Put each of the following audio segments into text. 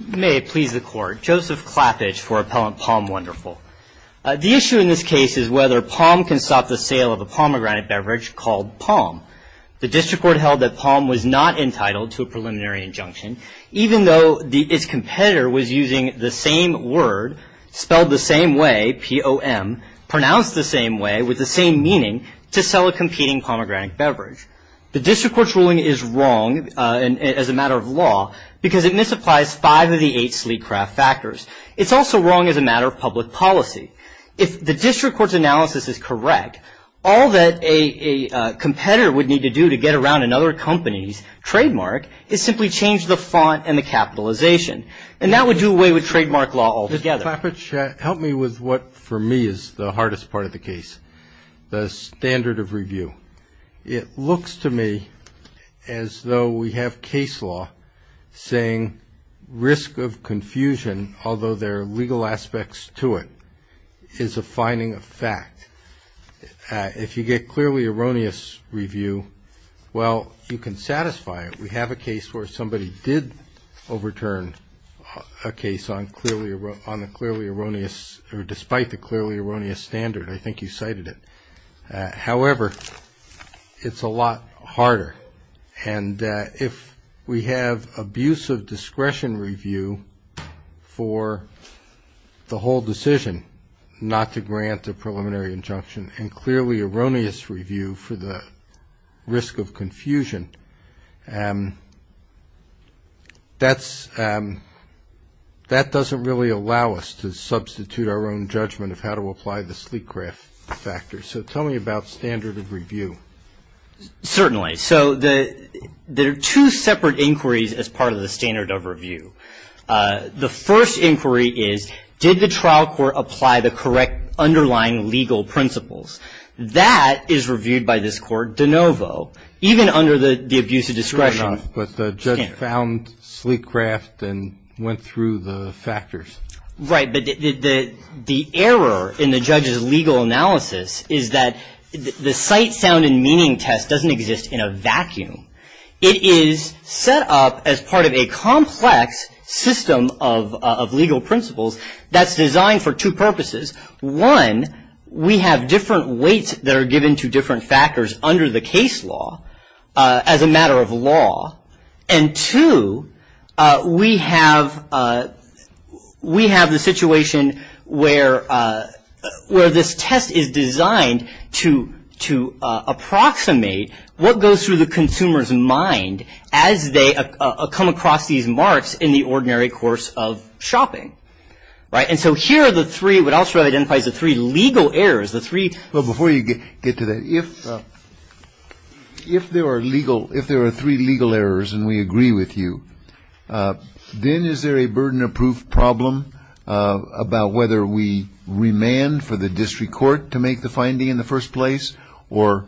May it please the Court. Joseph Klapich for Appellant Palm Wonderful. The issue in this case is whether Palm can stop the sale of a pomegranate beverage called Palm. The District Court held that Palm was not entitled to a preliminary injunction, even though its competitor was using the same word, spelled the same way, P-O-M, pronounced the same way, with the same meaning, to sell a competing pomegranate beverage. The District Court's ruling is wrong as a matter of law, because it misapplies five of the eight Sleecraft factors. It's also wrong as a matter of public policy. If the District Court's analysis is correct, all that a competitor would need to do to get around another company's trademark is simply change the font and the capitalization, and that would do away with trademark law altogether. Mr. Klapich, help me with what for me is the hardest part of the case, the standard of review. It looks to me as though we have case law saying risk of confusion, although there are legal aspects to it, is a finding of fact. If you get clearly erroneous review, well, you can satisfy it. We have a case where somebody did overturn a case on the clearly erroneous, or despite the clearly erroneous standard, I think you cited it. However, it's a lot harder. And if we have abusive discretion review for the whole decision not to grant a preliminary injunction and clearly erroneous review for the risk of confusion, that doesn't really allow us to substitute our own judgment of how to apply the Sleecraft factors. So tell me about standard of review. Certainly. So there are two separate inquiries as part of the standard of review. The first inquiry is, did the trial court apply the correct underlying legal principles? That is reviewed by this court de novo, even under the abusive discretion standard. But the judge found Sleecraft and went through the factors. Right, but the error in the judge's legal analysis is that the sight, sound, and meaning test doesn't exist in a vacuum. It is set up as part of a complex system of legal principles that's designed for two purposes. One, we have different weights that are given to different factors under the case law as a matter of law. And two, we have the situation where this test is designed to approximate what goes through the consumer's mind as they come across these marks in the ordinary course of shopping. Right, and so here are the three, what I'll show identifies the three legal errors, the three. Well, before you get to that, if there are legal, if there are three legal errors and we agree with you, then is there a burden of proof problem about whether we remand for the district court to make the finding in the first place? Or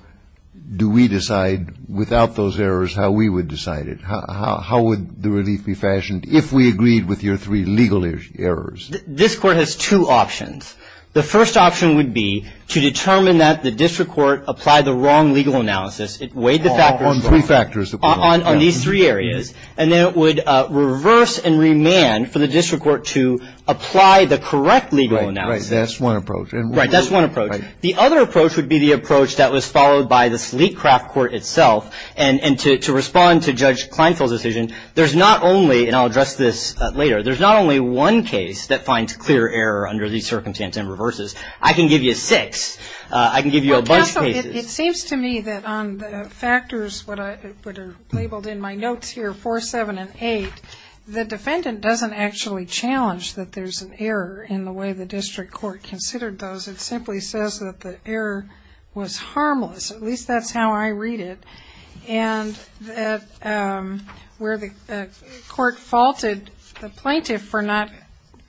do we decide without those errors how we would decide it? How would the relief be fashioned if we agreed with your three legal errors? This court has two options. The first option would be to determine that the district court applied the wrong legal analysis. It weighed the factors. On three factors. On these three areas. And then it would reverse and remand for the district court to apply the correct legal analysis. Right, that's one approach. Right, that's one approach. The other approach would be the approach that was followed by the Sleetcraft Court itself. And to respond to Judge Kleinfeld's decision, there's not only, and I'll address this later, there's not only one case that finds clear error under these circumstances and reverses. I can give you six. I can give you a bunch of cases. It seems to me that on the factors that are labeled in my notes here, four, seven, and eight, the defendant doesn't actually challenge that there's an error in the way the district court considered those. It simply says that the error was harmless. At least that's how I read it. And that where the court faulted the plaintiff for not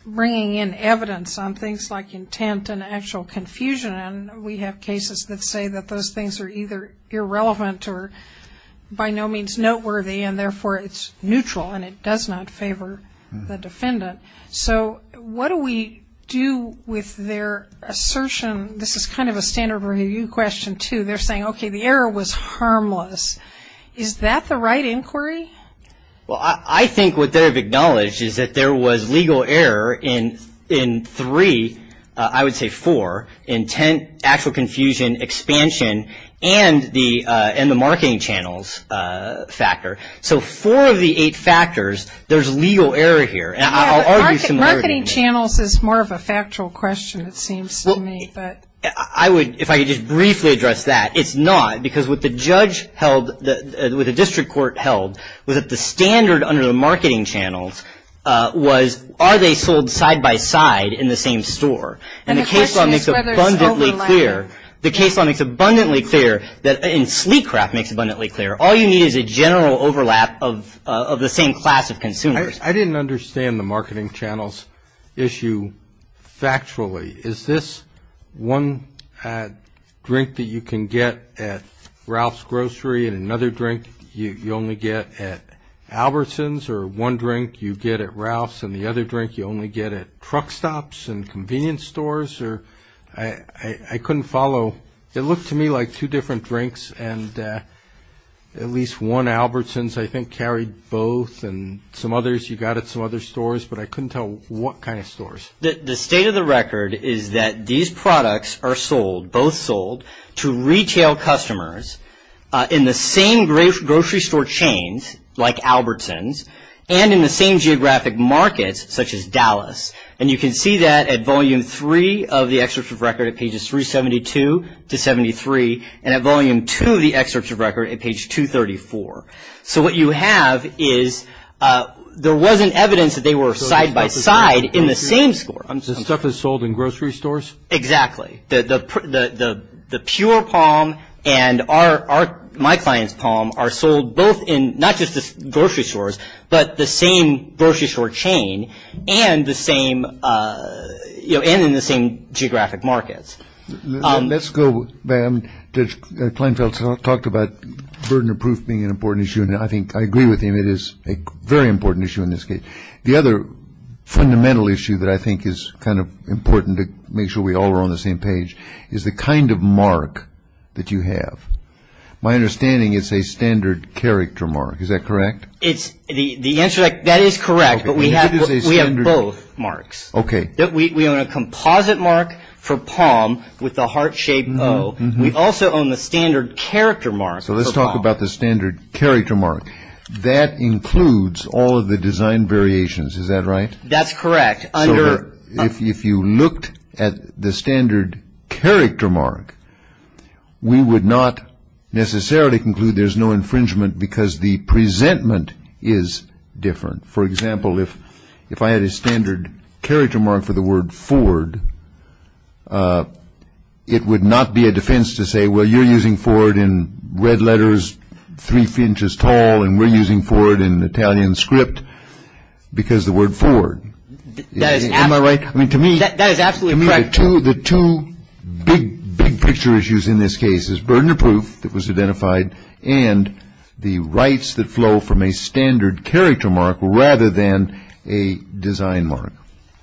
bringing in evidence on things like intent and actual confusion, and we have cases that say that those things are either irrelevant or by no means noteworthy and, therefore, it's neutral and it does not favor the defendant. So what do we do with their assertion? This is kind of a standard review question, too. They're saying, okay, the error was harmless. Is that the right inquiry? Well, I think what they have acknowledged is that there was legal error in three, I would say four, intent, actual confusion, expansion, and the marketing channels factor. So four of the eight factors, there's legal error here. Marketing channels is more of a factual question, it seems to me. If I could just briefly address that, it's not, because what the judge held, what the district court held was that the standard under the marketing channels was, are they sold side by side in the same store? And the case law makes abundantly clear that, and sleek crap makes abundantly clear, all you need is a general overlap of the same class of consumers. I didn't understand the marketing channels issue factually. Is this one drink that you can get at Ralph's Grocery and another drink you only get at Albertson's, or one drink you get at Ralph's and the other drink you only get at truck stops and convenience stores? I couldn't follow. It looked to me like two different drinks and at least one, Albertson's I think carried both and some others you got at some other stores, but I couldn't tell what kind of stores. The state of the record is that these products are sold, both sold, to retail customers in the same grocery store chains like Albertson's and in the same geographic markets such as Dallas. And you can see that at Volume 3 of the excerpt of record at pages 372 to 73 and at Volume 2 of the excerpt of record at page 234. So what you have is there wasn't evidence that they were side by side in the same store. So stuff is sold in grocery stores? Exactly. The Pure Palm and my client's palm are sold both in not just the grocery stores, but the same grocery store chain and in the same geographic markets. Let's go back. Judge Kleinfeld talked about burden of proof being an important issue, and I think I agree with him. It is a very important issue in this case. The other fundamental issue that I think is kind of important to make sure we all are on the same page is the kind of mark that you have. My understanding is a standard character mark. Is that correct? The answer to that is correct, but we have both marks. Okay. We own a composite mark for palm with the heart-shaped O. We also own the standard character mark for palm. So let's talk about the standard character mark. That includes all of the design variations. Is that right? That's correct. If you looked at the standard character mark, we would not necessarily conclude there's no infringement because the presentment is different. For example, if I had a standard character mark for the word Ford, it would not be a defense to say, well, you're using Ford in red letters three inches tall and we're using Ford in Italian script because the word Ford. Am I right? I mean, to me, the two big picture issues in this case is burden of proof that was identified and the rights that flow from a standard character mark rather than a design mark.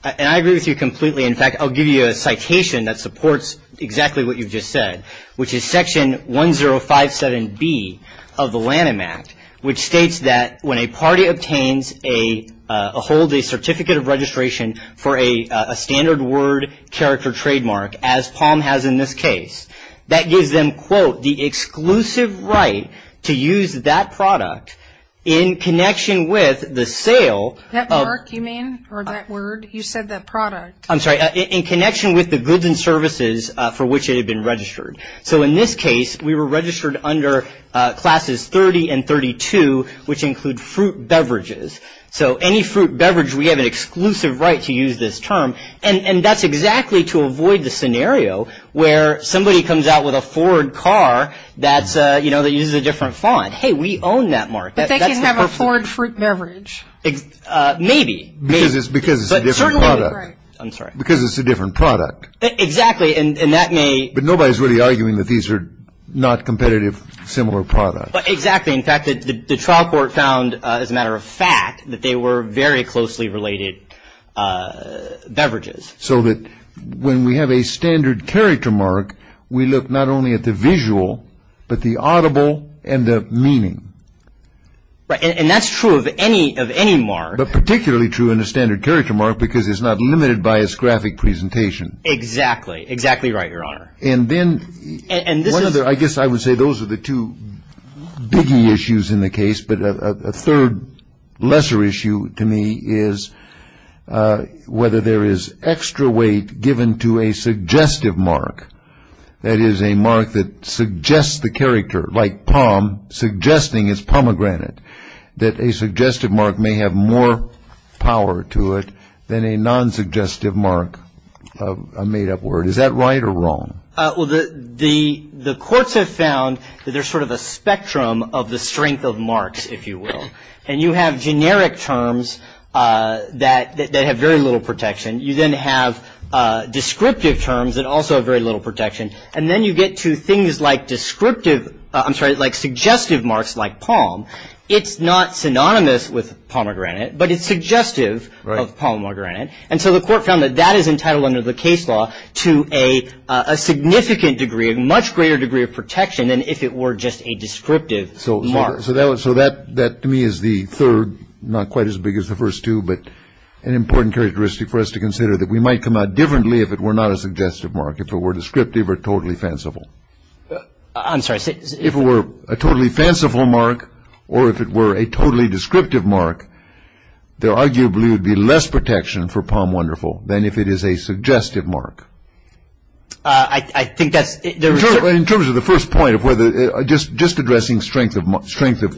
And I agree with you completely. In fact, I'll give you a citation that supports exactly what you've just said, which is Section 1057B of the Lanham Act, which states that when a party obtains a hold, a certificate of registration for a standard word character trademark, as palm has in this case, that gives them, quote, the exclusive right to use that product in connection with the sale. That mark, you mean, or that word? You said that product. I'm sorry. In connection with the goods and services for which it had been registered. So in this case, we were registered under Classes 30 and 32, which include fruit beverages. So any fruit beverage, we have an exclusive right to use this term. And that's exactly to avoid the scenario where somebody comes out with a Ford car that's, you know, that uses a different font. Hey, we own that mark. But they can have a Ford fruit beverage. Maybe. Because it's a different product. I'm sorry. Because it's a different product. Exactly. And that may. But nobody's really arguing that these are not competitive, similar products. Exactly. In fact, the trial court found, as a matter of fact, that they were very closely related beverages. So that when we have a standard character mark, we look not only at the visual, but the audible and the meaning. Right. And that's true of any mark. But particularly true in a standard character mark because it's not limited by its graphic presentation. Exactly. Exactly right, Your Honor. And then one other. I guess I would say those are the two biggie issues in the case. But a third lesser issue to me is whether there is extra weight given to a suggestive mark, that is a mark that suggests the character, like palm, suggesting it's pomegranate, that a suggestive mark may have more power to it than a non-suggestive mark, a made-up word. Is that right or wrong? Well, the courts have found that there's sort of a spectrum of the strength of marks, if you will. And you have generic terms that have very little protection. You then have descriptive terms that also have very little protection. And then you get to things like descriptive, I'm sorry, like suggestive marks like palm. It's not synonymous with pomegranate, but it's suggestive of pomegranate. And so the court found that that is entitled under the case law to a significant degree, a much greater degree of protection than if it were just a descriptive mark. So that to me is the third, not quite as big as the first two, but an important characteristic for us to consider that we might come out differently if it were not a suggestive mark, if it were descriptive or totally fanciful. I'm sorry. If it were a totally fanciful mark or if it were a totally descriptive mark, there arguably would be less protection for palm wonderful than if it is a suggestive mark. I think that's the result. In terms of the first point of whether, just addressing strength of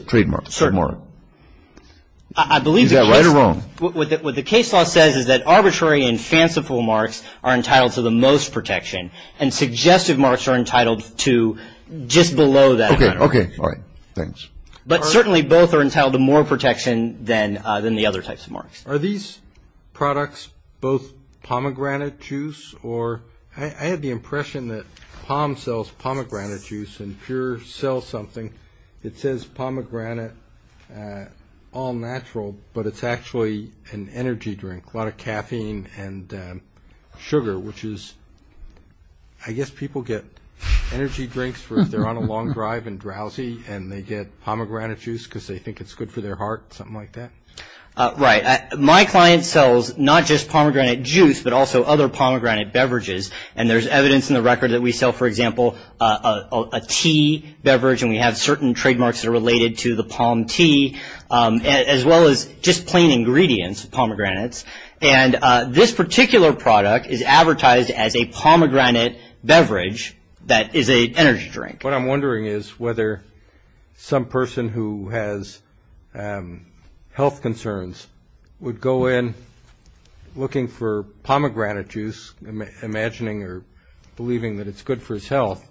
trademark. Sure. Is that right or wrong? What the case law says is that arbitrary and fanciful marks are entitled to the most protection and suggestive marks are entitled to just below that. Okay. All right. Thanks. But certainly both are entitled to more protection than the other types of marks. Are these products both pomegranate juice? Or I had the impression that Palm sells pomegranate juice and Pure sells something that says pomegranate all natural, but it's actually an energy drink, a lot of caffeine and sugar, which is I guess people get energy drinks if they're on a long drive and drowsy and they get pomegranate juice because they think it's good for their heart, something like that? Right. My client sells not just pomegranate juice but also other pomegranate beverages, and there's evidence in the record that we sell, for example, a tea beverage, and we have certain trademarks that are related to the palm tea as well as just plain ingredients, pomegranates, and this particular product is advertised as a pomegranate beverage that is an energy drink. What I'm wondering is whether some person who has health concerns would go in looking for pomegranate juice, imagining or believing that it's good for his health,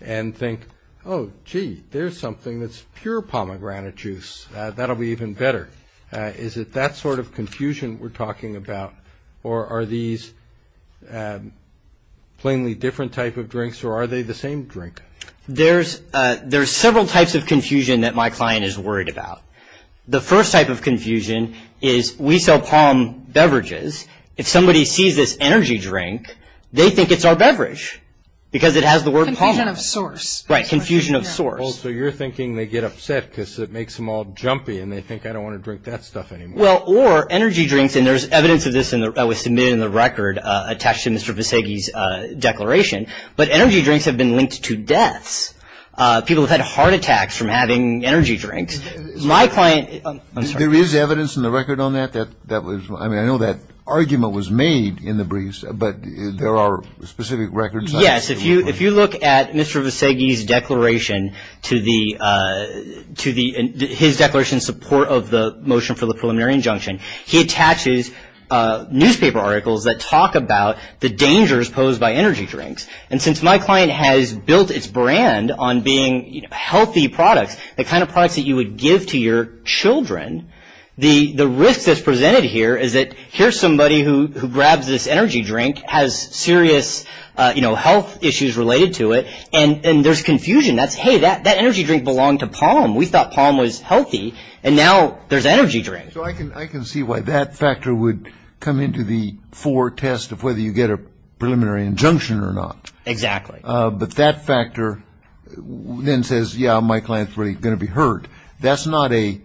and think, oh, gee, there's something that's pure pomegranate juice. That'll be even better. Is it that sort of confusion we're talking about, or are these plainly different type of drinks, or are they the same drink? There's several types of confusion that my client is worried about. The first type of confusion is we sell palm beverages. If somebody sees this energy drink, they think it's our beverage because it has the word palm in it. Confusion of source. Right, confusion of source. So you're thinking they get upset because it makes them all jumpy, and they think, I don't want to drink that stuff anymore. Well, or energy drinks, and there's evidence of this that was submitted in the record attached to Mr. Visegi's declaration, but energy drinks have been linked to deaths. People have had heart attacks from having energy drinks. My client – I'm sorry. There is evidence in the record on that? That was – I mean, I know that argument was made in the briefs, but there are specific records. Yes, if you look at Mr. Visegi's declaration to the – his declaration in support of the motion for the preliminary injunction, he attaches newspaper articles that talk about the dangers posed by energy drinks, and since my client has built its brand on being healthy products, the kind of products that you would give to your children, the risk that's presented here is that here's somebody who grabs this energy drink, has serious, you know, health issues related to it, and there's confusion. That's, hey, that energy drink belonged to Palm. We thought Palm was healthy, and now there's energy drinks. So I can see why that factor would come into the fore test of whether you get a preliminary injunction or not. Exactly. But that factor then says, yeah, my client's really going to be hurt. That's not a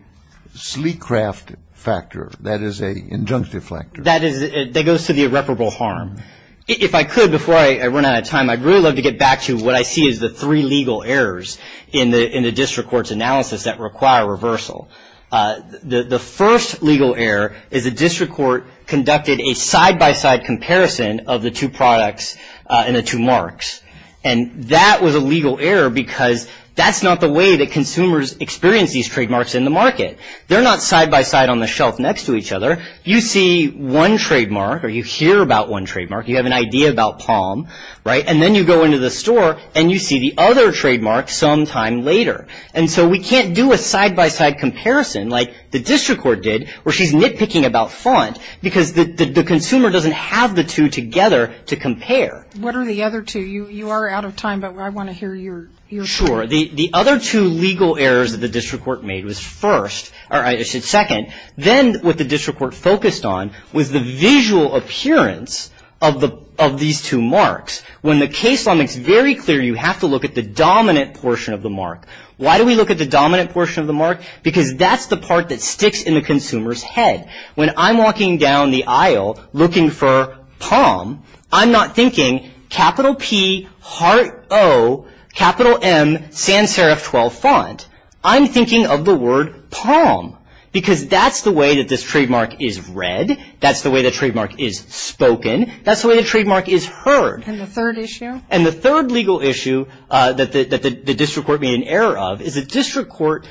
sleek craft factor. That is an injunctive factor. That is – that goes to the irreparable harm. If I could, before I run out of time, I'd really love to get back to what I see as the three legal errors in the district court's analysis that require reversal. The first legal error is the district court conducted a side-by-side comparison of the two products and the two marks, and that was a legal error because that's not the way that consumers experience these trademarks in the market. They're not side-by-side on the shelf next to each other. You see one trademark or you hear about one trademark, you have an idea about Palm, right, and then you go into the store and you see the other trademark sometime later. And so we can't do a side-by-side comparison like the district court did where she's nitpicking about font What are the other two? You are out of time, but I want to hear your thoughts. Sure. The other two legal errors that the district court made was first – or I should say second. Then what the district court focused on was the visual appearance of these two marks. When the case law makes very clear you have to look at the dominant portion of the mark. Why do we look at the dominant portion of the mark? Because that's the part that sticks in the consumer's head. When I'm walking down the aisle looking for Palm, I'm not thinking capital P, heart O, capital M, sans serif 12 font. I'm thinking of the word Palm because that's the way that this trademark is read. That's the way the trademark is spoken. That's the way the trademark is heard. And the third issue? And the third legal issue that the district court made an error of is the district court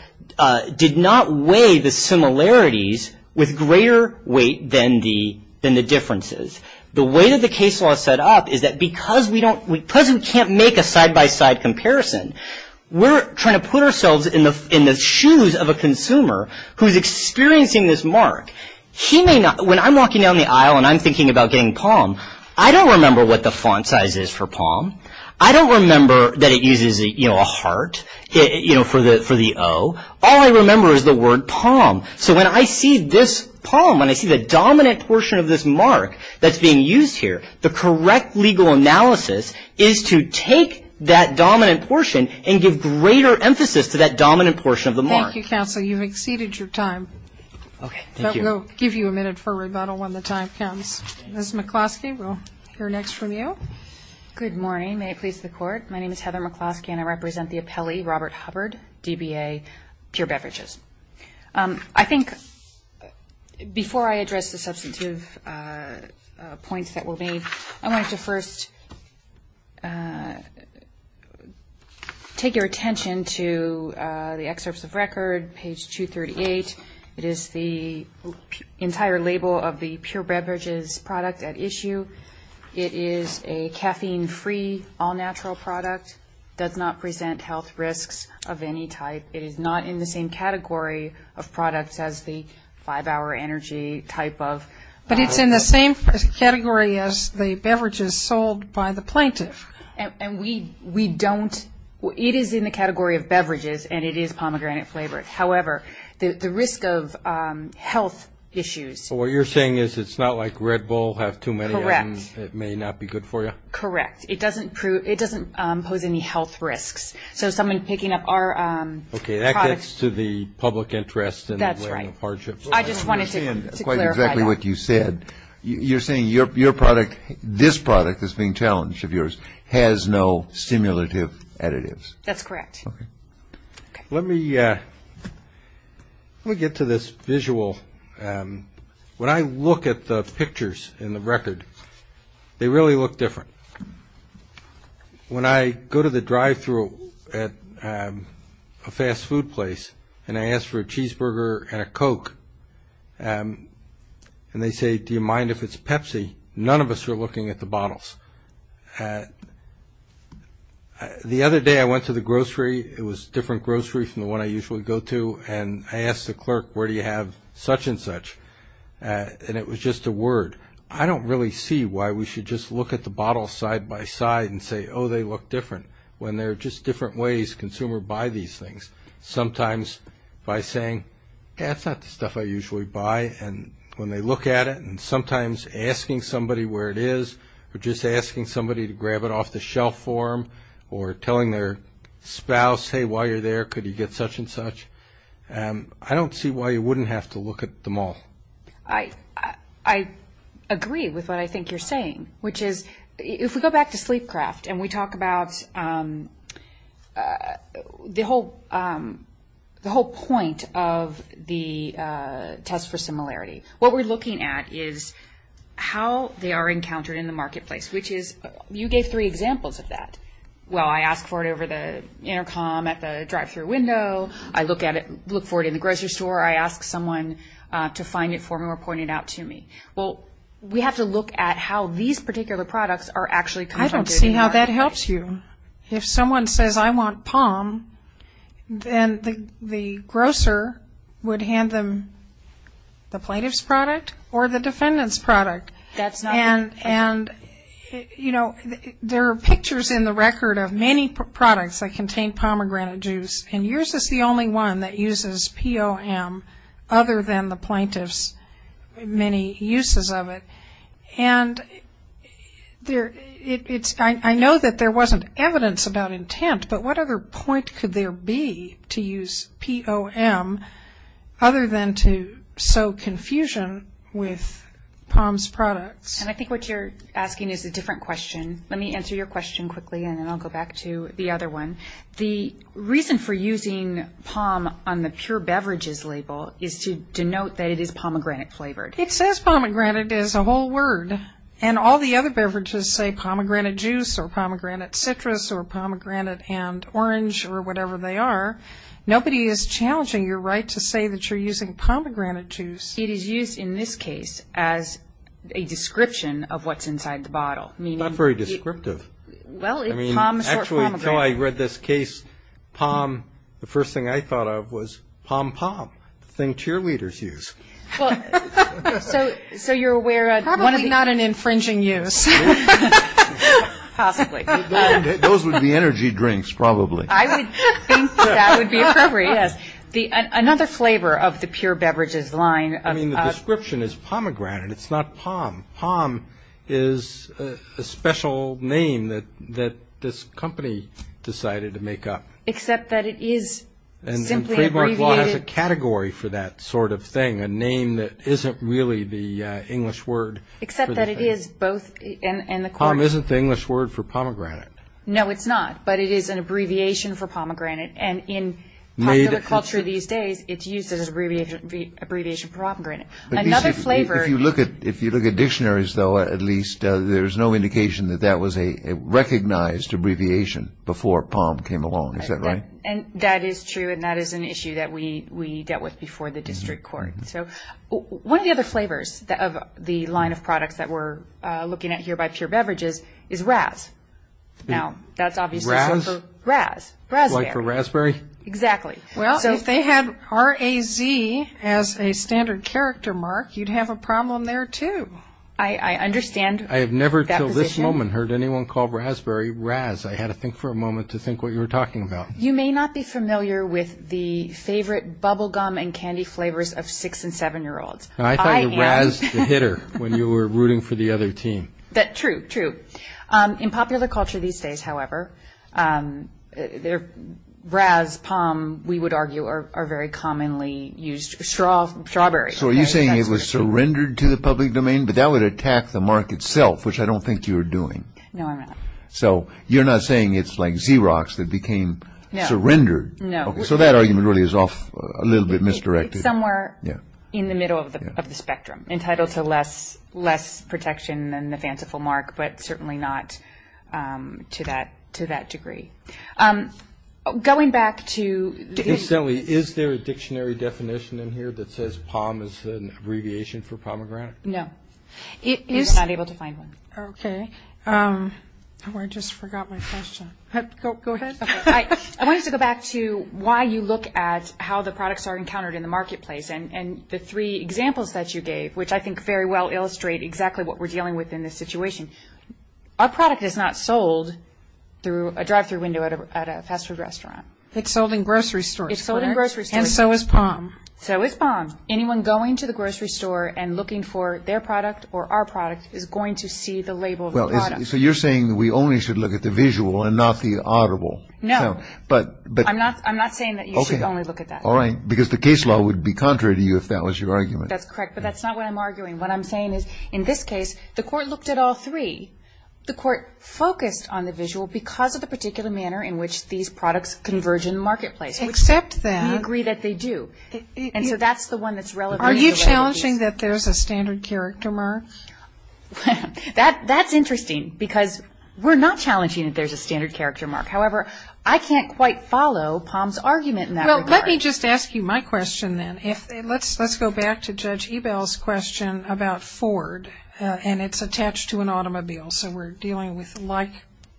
did not weigh the similarities with greater weight than the differences. The way that the case law is set up is that because we can't make a side-by-side comparison, we're trying to put ourselves in the shoes of a consumer who is experiencing this mark. When I'm walking down the aisle and I'm thinking about getting Palm, I don't remember what the font size is for Palm. I don't remember that it uses a heart for the O. All I remember is the word Palm. So when I see this Palm and I see the dominant portion of this mark that's being used here, the correct legal analysis is to take that dominant portion and give greater emphasis to that dominant portion of the mark. Thank you, counsel. You've exceeded your time. Okay. Thank you. That will give you a minute for rebuttal when the time comes. Ms. McCloskey, we'll hear next from you. Good morning. May it please the Court. My name is Heather McCloskey, and I represent the appellee, Robert Hubbard, DBA Pure Beverages. I think before I address the substantive points that were made, I wanted to first take your attention to the excerpts of record, page 238. It is the entire label of the Pure Beverages product at issue. It is a caffeine-free, all-natural product, does not present health risks of any type. It is not in the same category of products as the five-hour energy type of. But it's in the same category as the beverages sold by the plaintiff. And we don't. It is in the category of beverages, and it is pomegranate flavored. However, the risk of health issues. So what you're saying is it's not like Red Bull, have too many of them. Correct. It may not be good for you. Correct. It doesn't pose any health risks. So someone picking up our product. Okay. That gets to the public interest. That's right. I just wanted to clarify that. You're saying quite exactly what you said. You're saying your product, this product that's being challenged of yours, has no stimulative additives. That's correct. Okay. Let me get to this visual. When I look at the pictures in the record, they really look different. When I go to the drive-through at a fast food place and I ask for a cheeseburger and a Coke, and they say, do you mind if it's Pepsi, none of us are looking at the bottles. The other day I went to the grocery, it was a different grocery from the one I usually go to, and I asked the clerk, where do you have such and such? And it was just a word. I don't really see why we should just look at the bottles side by side and say, oh, they look different, when there are just different ways consumers buy these things. Sometimes by saying, that's not the stuff I usually buy, and when they look at it, and sometimes asking somebody where it is or just asking somebody to grab it off the shelf for them or telling their spouse, hey, while you're there, could you get such and such, I don't see why you wouldn't have to look at them all. I agree with what I think you're saying, which is, if we go back to Sleepcraft and we talk about the whole point of the test for similarity, what we're looking at is how they are encountered in the marketplace, which is, you gave three examples of that. Well, I ask for it over the intercom at the drive-thru window, I look for it in the grocery store, I ask someone to find it for me or point it out to me. Well, we have to look at how these particular products are actually confronted in the marketplace. I don't see how that helps you. If someone says, I want POM, then the grocer would hand them the plaintiff's product or the defendant's product. That's not right. And, you know, there are pictures in the record of many products that contain pomegranate juice, and yours is the only one that uses POM other than the plaintiff's many uses of it. And I know that there wasn't evidence about intent, but what other point could there be to use POM other than to sow confusion with POM's products? And I think what you're asking is a different question. Let me answer your question quickly, and then I'll go back to the other one. The reason for using POM on the pure beverages label is to denote that it is pomegranate flavored. It says pomegranate as a whole word, and all the other beverages say pomegranate juice or pomegranate citrus or pomegranate and orange or whatever they are. Nobody is challenging your right to say that you're using pomegranate juice. It is used in this case as a description of what's inside the bottle. Not very descriptive. Well, POM is short for pomegranate. Actually, until I read this case, POM, the first thing I thought of was pom-pom, the thing cheerleaders use. So you're aware one is not an infringing use. Possibly. Those would be energy drinks, probably. I would think that would be appropriate, yes. Another flavor of the pure beverages line. I mean, the description is pomegranate. It's not POM. POM is a special name that this company decided to make up. Except that it is simply abbreviated. The law has a category for that sort of thing, a name that isn't really the English word. Except that it is both in the court. POM isn't the English word for pomegranate. No, it's not, but it is an abbreviation for pomegranate. And in popular culture these days, it's used as an abbreviation for pomegranate. Another flavor. If you look at dictionaries, though, at least, there's no indication that that was a recognized abbreviation before POM came along. Is that right? That is true, and that is an issue that we dealt with before the district court. One of the other flavors of the line of products that we're looking at here by pure beverages is Raz. Raz? Raz. Like for raspberry? Exactly. Well, if they had R-A-Z as a standard character mark, you'd have a problem there, too. I understand that position. I have never until this moment heard anyone call raspberry Raz. I had to think for a moment to think what you were talking about. You may not be familiar with the favorite bubble gum and candy flavors of 6- and 7-year-olds. I thought you were Raz the hitter when you were rooting for the other team. True, true. In popular culture these days, however, Raz, POM, we would argue, are very commonly used. Strawberry. So are you saying it was surrendered to the public domain? But that would attack the mark itself, which I don't think you were doing. No, I'm not. So you're not saying it's like Xerox that became surrendered. No. So that argument really is a little bit misdirected. It's somewhere in the middle of the spectrum, entitled to less protection than the fanciful mark, but certainly not to that degree. Going back to the – Incidentally, is there a dictionary definition in here that says POM is an abbreviation for pomegranate? No. We were not able to find one. Okay. I just forgot my question. Go ahead. I wanted to go back to why you look at how the products are encountered in the marketplace and the three examples that you gave, which I think very well illustrate exactly what we're dealing with in this situation. Our product is not sold through a drive-through window at a fast food restaurant. It's sold in grocery stores. It's sold in grocery stores. And so is POM. So is POM. Anyone going to the grocery store and looking for their product or our product is going to see the label of the product. So you're saying that we only should look at the visual and not the audible. No. I'm not saying that you should only look at that. All right. Because the case law would be contrary to you if that was your argument. That's correct. But that's not what I'm arguing. What I'm saying is, in this case, the court looked at all three. The court focused on the visual because of the particular manner in which these products converge in the marketplace. Except that. We agree that they do. And so that's the one that's relevant. Are you challenging that there's a standard character mark? That's interesting because we're not challenging that there's a standard character mark. However, I can't quite follow POM's argument in that regard. Well, let me just ask you my question then. Let's go back to Judge Ebell's question about Ford, and it's attached to an automobile. So we're dealing with like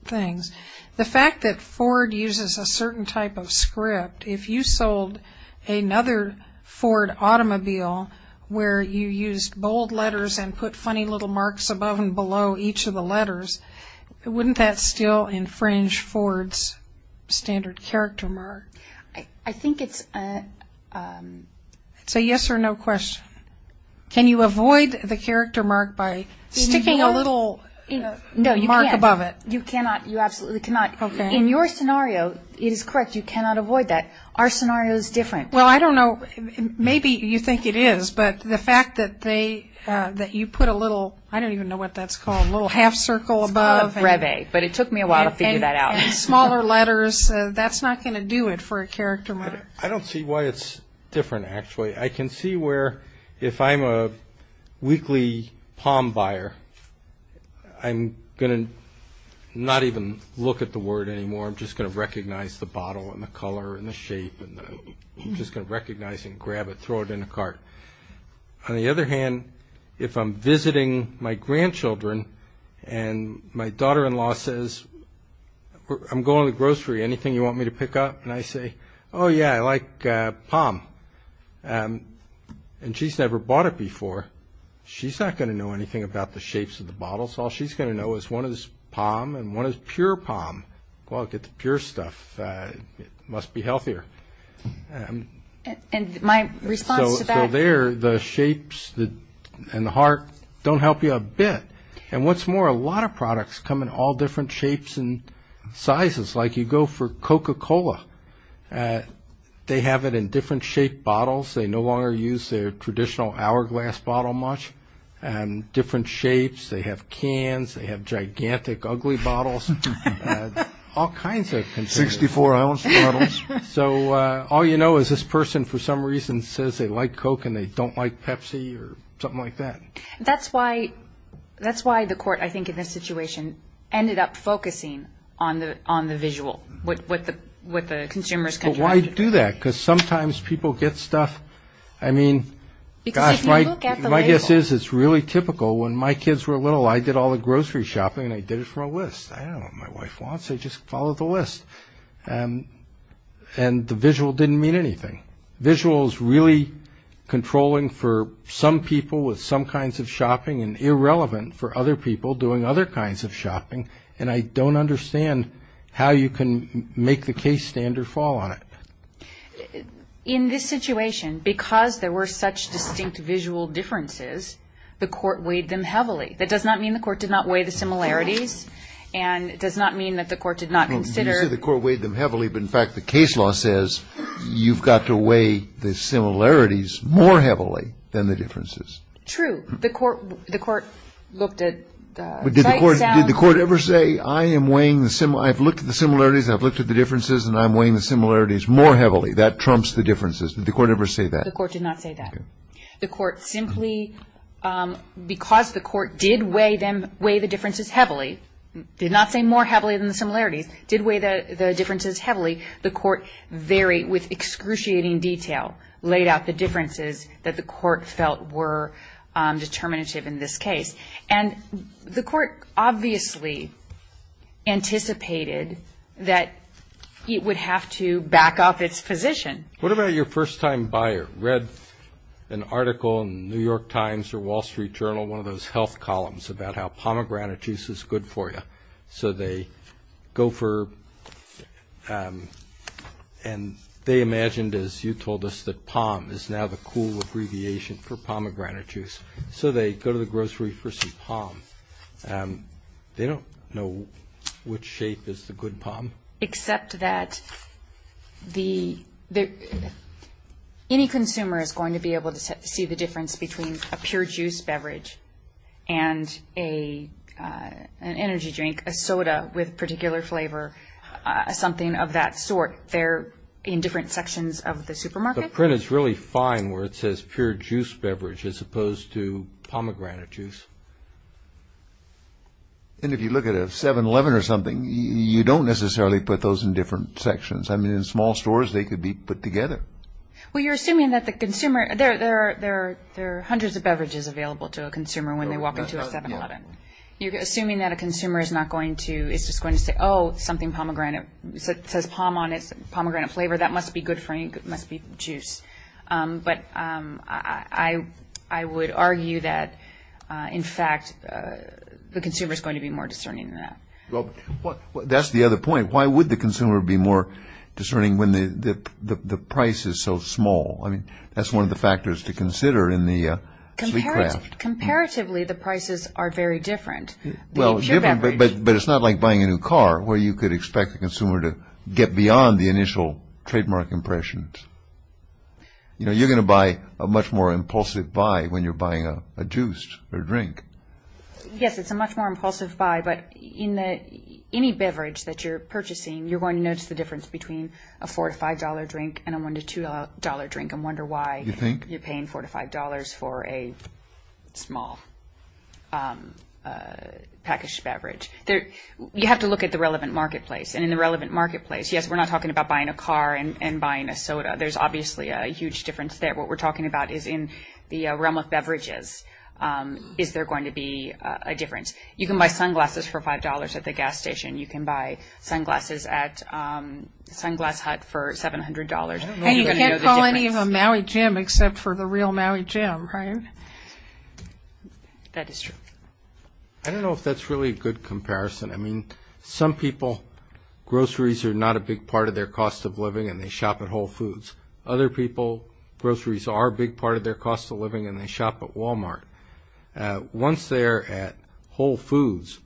things. The fact that Ford uses a certain type of script, if you sold another Ford automobile where you used bold letters and put funny little marks above and below each of the letters, wouldn't that still infringe Ford's standard character mark? I think it's a yes or no question. Can you avoid the character mark by sticking a little mark above it? You cannot. You absolutely cannot. Okay. In your scenario, it is correct. You cannot avoid that. Our scenario is different. Well, I don't know. Maybe you think it is, but the fact that you put a little, I don't even know what that's called, a little half circle above. Reve, but it took me a while to figure that out. And smaller letters. That's not going to do it for a character mark. I don't see why it's different, actually. I can see where if I'm a weekly palm buyer, I'm going to not even look at the word anymore. I'm just going to recognize the bottle and the color and the shape. I'm just going to recognize and grab it, throw it in the cart. On the other hand, if I'm visiting my grandchildren and my daughter-in-law says, I'm going to the grocery, anything you want me to pick up? And I say, oh, yeah, I like palm. And she's never bought it before. She's not going to know anything about the shapes of the bottles. All she's going to know is one is palm and one is pure palm. Well, I'll get the pure stuff. It must be healthier. And my response to that? So there, the shapes and the heart don't help you a bit. And what's more, a lot of products come in all different shapes and sizes. Like you go for Coca-Cola, they have it in different shaped bottles. They no longer use their traditional hourglass bottle much. Different shapes. They have cans. They have gigantic, ugly bottles. All kinds of containers. 64-ounce bottles. So all you know is this person for some reason says they like Coke and they don't like Pepsi or something like that. That's why the court, I think, in this situation ended up focusing on the visual, what the consumers contracted. But why do that? Because sometimes people get stuff. I mean, gosh, my guess is it's really typical. When my kids were little, I did all the grocery shopping and I did it for a list. I don't know what my wife wants. I just followed the list. And the visual didn't mean anything. Visual is really controlling for some people with some kinds of shopping and irrelevant for other people doing other kinds of shopping. And I don't understand how you can make the case standard fall on it. In this situation, because there were such distinct visual differences, the court weighed them heavily. That does not mean the court did not weigh the similarities and it does not mean that the court did not consider. You say the court weighed them heavily, but, in fact, the case law says you've got to weigh the similarities more heavily than the differences. True. The court looked at sight, sound. Did the court ever say, I am weighing the similarities, I've looked at the similarities and I've looked at the differences and I'm weighing the similarities more heavily. That trumps the differences. Did the court ever say that? The court did not say that. The court simply, because the court did weigh the differences heavily, did not say more heavily than the similarities, did weigh the differences heavily, the court varied with excruciating detail, laid out the differences that the court felt were determinative in this case. And the court obviously anticipated that it would have to back up its position. What about your first-time buyer? Read an article in the New York Times or Wall Street Journal, one of those health columns about how pomegranate juice is good for you. So they go for, and they imagined, as you told us, that POM is now the cool abbreviation for pomegranate juice. So they go to the grocery for some POM. They don't know which shape is the good POM. Except that any consumer is going to be able to see the difference between a pure juice beverage and an energy drink, a soda with particular flavor, something of that sort. They're in different sections of the supermarket. The print is really fine where it says pure juice beverage as opposed to pomegranate juice. And if you look at a 7-Eleven or something, you don't necessarily put those in different sections. I mean, in small stores they could be put together. Well, you're assuming that the consumer, there are hundreds of beverages available to a consumer when they walk into a 7-Eleven. You're assuming that a consumer is not going to, is just going to say, oh, something pomegranate. It says POM on it, pomegranate flavor. That must be good for me. It must be juice. But I would argue that, in fact, the consumer is going to be more discerning than that. Well, that's the other point. Why would the consumer be more discerning when the price is so small? I mean, that's one of the factors to consider in the sleek craft. Comparatively, the prices are very different. Well, it's different, but it's not like buying a new car where you could expect the consumer to get beyond the initial trademark impressions. You know, you're going to buy a much more impulsive buy when you're buying a juice or drink. Yes, it's a much more impulsive buy, but in any beverage that you're purchasing, you're going to notice the difference between a $4 to $5 drink and a $1 to $2 drink and wonder why you're paying $4 to $5 for a small packaged beverage. You have to look at the relevant marketplace. And in the relevant marketplace, yes, we're not talking about buying a car and buying a soda. There's obviously a huge difference there. What we're talking about is in the realm of beverages. Is there going to be a difference? You can buy sunglasses for $5 at the gas station. You can buy sunglasses at Sunglass Hut for $700. You can't call any of them Maui Jim except for the real Maui Jim, right? That is true. I don't know if that's really a good comparison. I mean, some people, groceries are not a big part of their cost of living, and they shop at Whole Foods. Other people, groceries are a big part of their cost of living, and they shop at Walmart. Once they're at Whole Foods,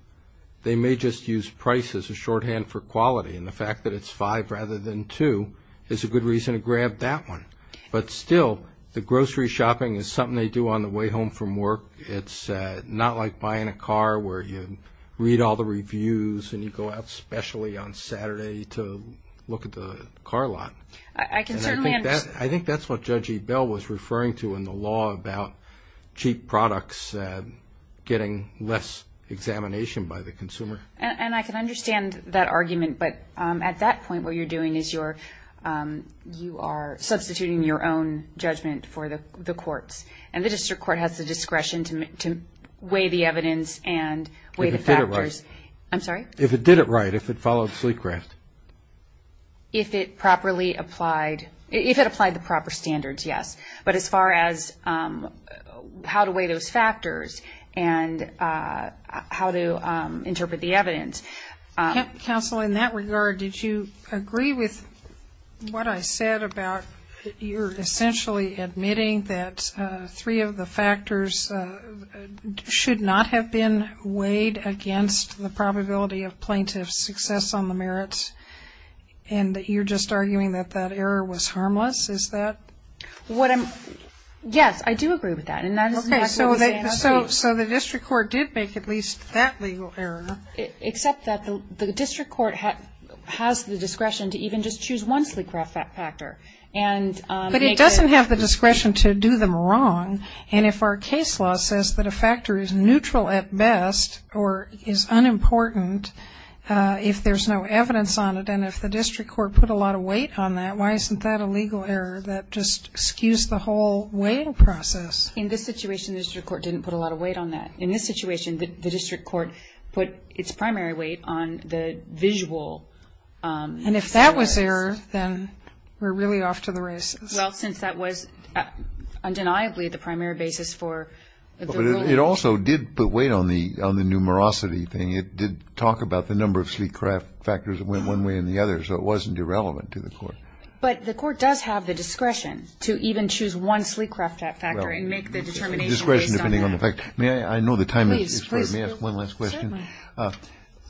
they may just use price as a shorthand for quality, and the fact that it's $5 rather than $2 is a good reason to grab that one. But still, the grocery shopping is something they do on the way home from work. It's not like buying a car where you read all the reviews and you go out specially on Saturday to look at the car lot. I can certainly understand. I think that's what Judge Ebell was referring to in the law about cheap products getting less examination by the consumer. And I can understand that argument, but at that point what you're doing is you are substituting your own judgment for the court's, and the district court has the discretion to weigh the evidence and weigh the factors. If it did it right. I'm sorry? If it did it right, if it followed Sleecraft. If it properly applied. If it applied the proper standards, yes. But as far as how to weigh those factors and how to interpret the evidence. Counsel, in that regard, did you agree with what I said about you're essentially admitting that three of the factors should not have been weighed against the probability of plaintiff's success on the merits, and that you're just arguing that that error was harmless? Is that? Yes, I do agree with that. So the district court did make at least that legal error. Except that the district court has the discretion to even just choose one Sleecraft factor. But it doesn't have the discretion to do them wrong, and if our case law says that a factor is neutral at best or is unimportant if there's no evidence on it, and if the district court put a lot of weight on that, why isn't that a legal error? That just skews the whole weighing process. In this situation, the district court didn't put a lot of weight on that. In this situation, the district court put its primary weight on the visual. And if that was error, then we're really off to the races. Well, since that was undeniably the primary basis for the ruling. But it also did put weight on the numerosity thing. It did talk about the number of Sleecraft factors that went one way and the other, so it wasn't irrelevant to the court. But the court does have the discretion to even choose one Sleecraft factor and make the determination based on that. That's correct. I know the time is short. May I ask one last question? Certainly.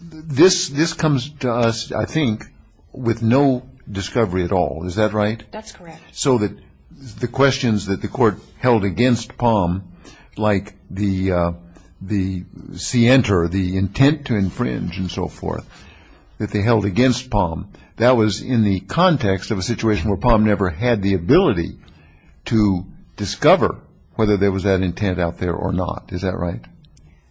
This comes to us, I think, with no discovery at all. Is that right? That's correct. So the questions that the court held against Palm, like the scienter, the intent to infringe and so forth, that they held against Palm, that was in the context of a situation where Palm never had the ability to discover whether there was that intent out there or not. Is that right?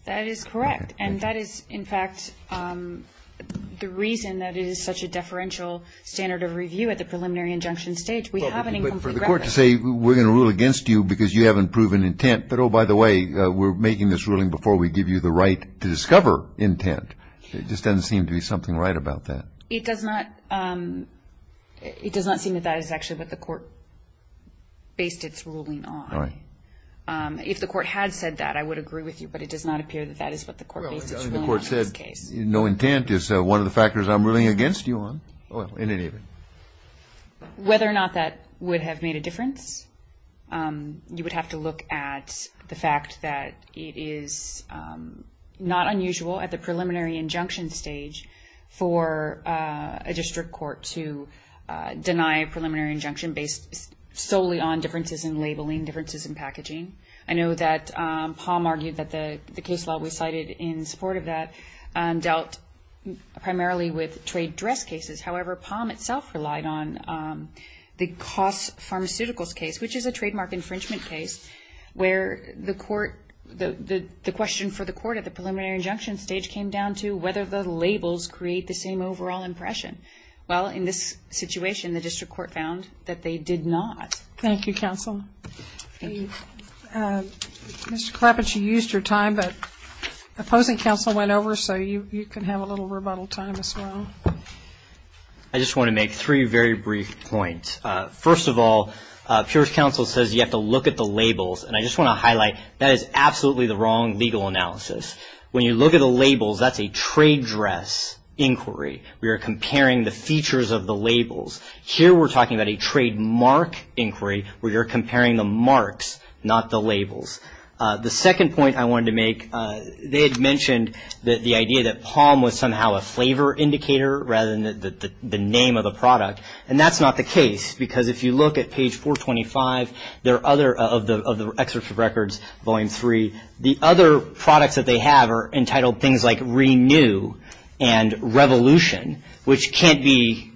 That is correct. And that is, in fact, the reason that it is such a deferential standard of review at the preliminary injunction stage. We have an incomplete record. But for the court to say, we're going to rule against you because you haven't proven intent, but, oh, by the way, we're making this ruling before we give you the right to discover intent, it just doesn't seem to be something right about that. It does not seem that that is actually what the court based its ruling on. All right. If the court had said that, I would agree with you. But it does not appear that that is what the court based its ruling on in this case. Well, the court said no intent is one of the factors I'm ruling against you on, in any event. Whether or not that would have made a difference, you would have to look at the fact that it is not unusual at the preliminary injunction stage for a district court to deny a preliminary injunction based solely on differences in labeling, differences in packaging. I know that Palm argued that the case law we cited in support of that dealt primarily with trade dress cases. However, Palm itself relied on the Koss Pharmaceuticals case, which is a trademark infringement case where the question for the court at the preliminary injunction stage came down to whether the labels create the same overall impression. Well, in this situation, the district court found that they did not. Thank you, counsel. Thank you. Mr. Clapin, you used your time, but the opposing counsel went over, so you can have a little rebuttal time as well. I just want to make three very brief points. First of all, Peer's counsel says you have to look at the labels, and I just want to highlight that is absolutely the wrong legal analysis. When you look at the labels, that's a trade dress inquiry. We are comparing the features of the labels. Here we're talking about a trademark inquiry where you're comparing the marks, not the labels. The second point I wanted to make, they had mentioned the idea that Palm was somehow a flavor indicator rather than the name of the product, and that's not the case because if you look at page 425 of the Excerpt of Records, Volume 3, the other products that they have are entitled things like Renew and Revolution, which can't be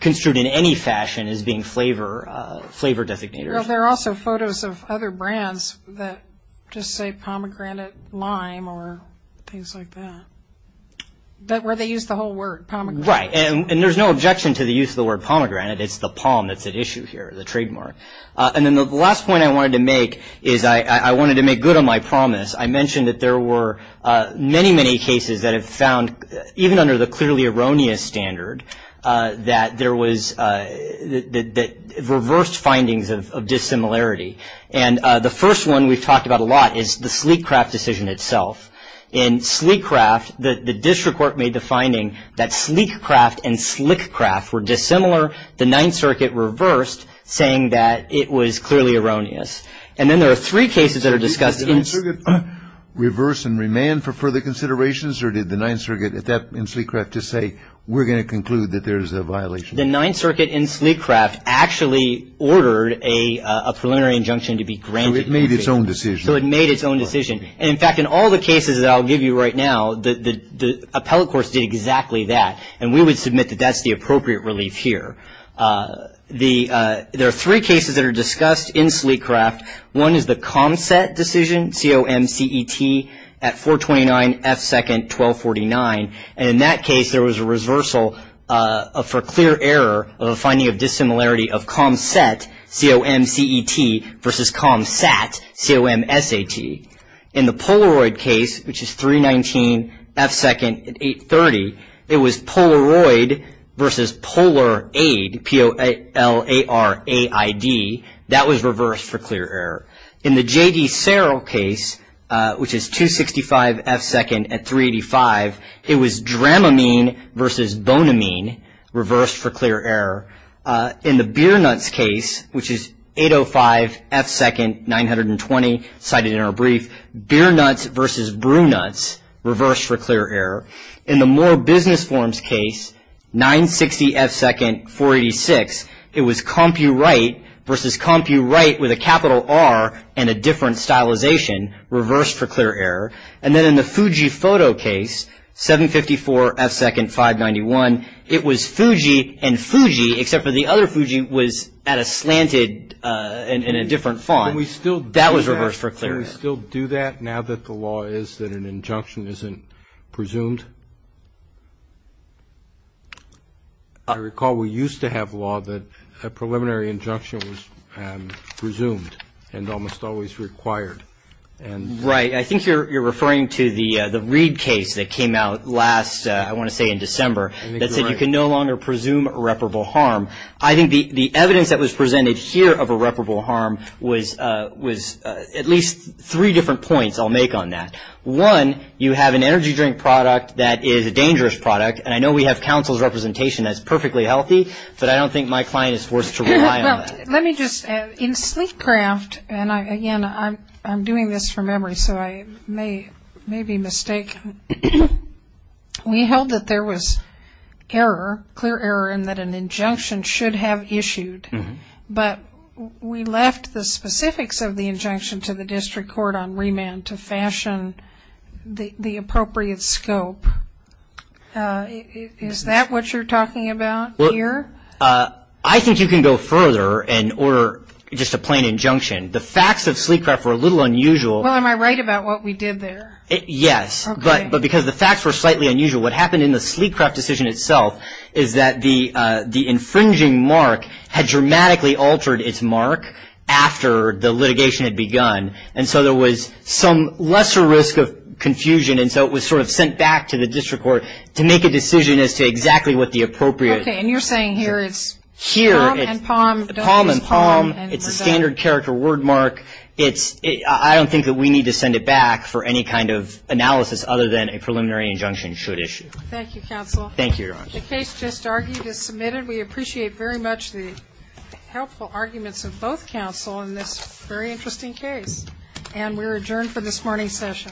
construed in any fashion as being flavor designators. Well, there are also photos of other brands that just say pomegranate, lime, or things like that, where they use the whole word pomegranate. Right, and there's no objection to the use of the word pomegranate. It's the palm that's at issue here, the trademark. And then the last point I wanted to make is I wanted to make good on my promise. I mentioned that there were many, many cases that have found, even under the clearly erroneous standard, that reversed findings of dissimilarity. And the first one we've talked about a lot is the Sleek Craft decision itself. In Sleek Craft, the district court made the finding that Sleek Craft and Slick Craft were dissimilar. The Ninth Circuit reversed, saying that it was clearly erroneous. And then there are three cases that are discussed in Sleek Craft. Did the Ninth Circuit reverse and remand for further considerations, or did the Ninth Circuit at that point in Sleek Craft just say, we're going to conclude that there's a violation? The Ninth Circuit in Sleek Craft actually ordered a preliminary injunction to be granted. So it made its own decision. So it made its own decision. And, in fact, in all the cases that I'll give you right now, the appellate courts did exactly that, and we would submit that that's the appropriate relief here. There are three cases that are discussed in Sleek Craft. One is the ComSat decision, C-O-M-C-E-T, at 429 F-second 1249. And in that case, there was a reversal for clear error of a finding of dissimilarity of ComSat, C-O-M-C-E-T, versus ComSat, C-O-M-S-A-T. In the Polaroid case, which is 319 F-second at 830, it was Polaroid versus PolarAid, P-O-L-A-R-A-I-D. That was reversed for clear error. In the J.D. Sarrell case, which is 265 F-second at 385, it was Dramamine versus Bonamine, reversed for clear error. In the Beer Nuts case, which is 805 F-second, 920, cited in our brief, Beer Nuts versus Brew Nuts, reversed for clear error. In the More Business Forms case, 960 F-second, 486, it was CompuWrite versus CompuWrite with a capital R and a different stylization, reversed for clear error. And then in the Fuji Photo case, 754 F-second, 591, it was Fuji and Fuji, except for the other Fuji was at a slanted and in a different font. That was reversed for clear error. Can we still do that now that the law is that an injunction isn't presumed? I recall we used to have law that a preliminary injunction was presumed and almost always required. Right. I think you're referring to the Reid case that came out last, I want to say in December, that said you can no longer presume irreparable harm. I think the evidence that was presented here of irreparable harm was at least three different points I'll make on that. One, you have an energy drink product that is a dangerous product, and I know we have counsel's representation that's perfectly healthy, but I don't think my client is forced to rely on that. Let me just add, in Sleekcraft, and again, I'm doing this from memory, so I may be mistaken. We held that there was error, clear error, and that an injunction should have issued, but we left the specifics of the injunction to the district court on remand to fashion the appropriate scope. Is that what you're talking about here? I think you can go further and order just a plain injunction. The facts of Sleekcraft were a little unusual. Well, am I right about what we did there? Yes, but because the facts were slightly unusual, what happened in the Sleekcraft decision itself is that the infringing mark had dramatically altered its mark after the litigation had begun, and so there was some lesser risk of confusion, and so it was sort of sent back to the district court to make a decision as to exactly what the appropriate. Okay, and you're saying here it's palm and palm. Palm and palm. It's a standard character word mark. I don't think that we need to send it back for any kind of analysis other than a preliminary injunction should issue. Thank you, counsel. Thank you, Your Honor. The case just argued is submitted. We appreciate very much the helpful arguments of both counsel in this very interesting case, and we're adjourned for this morning's session.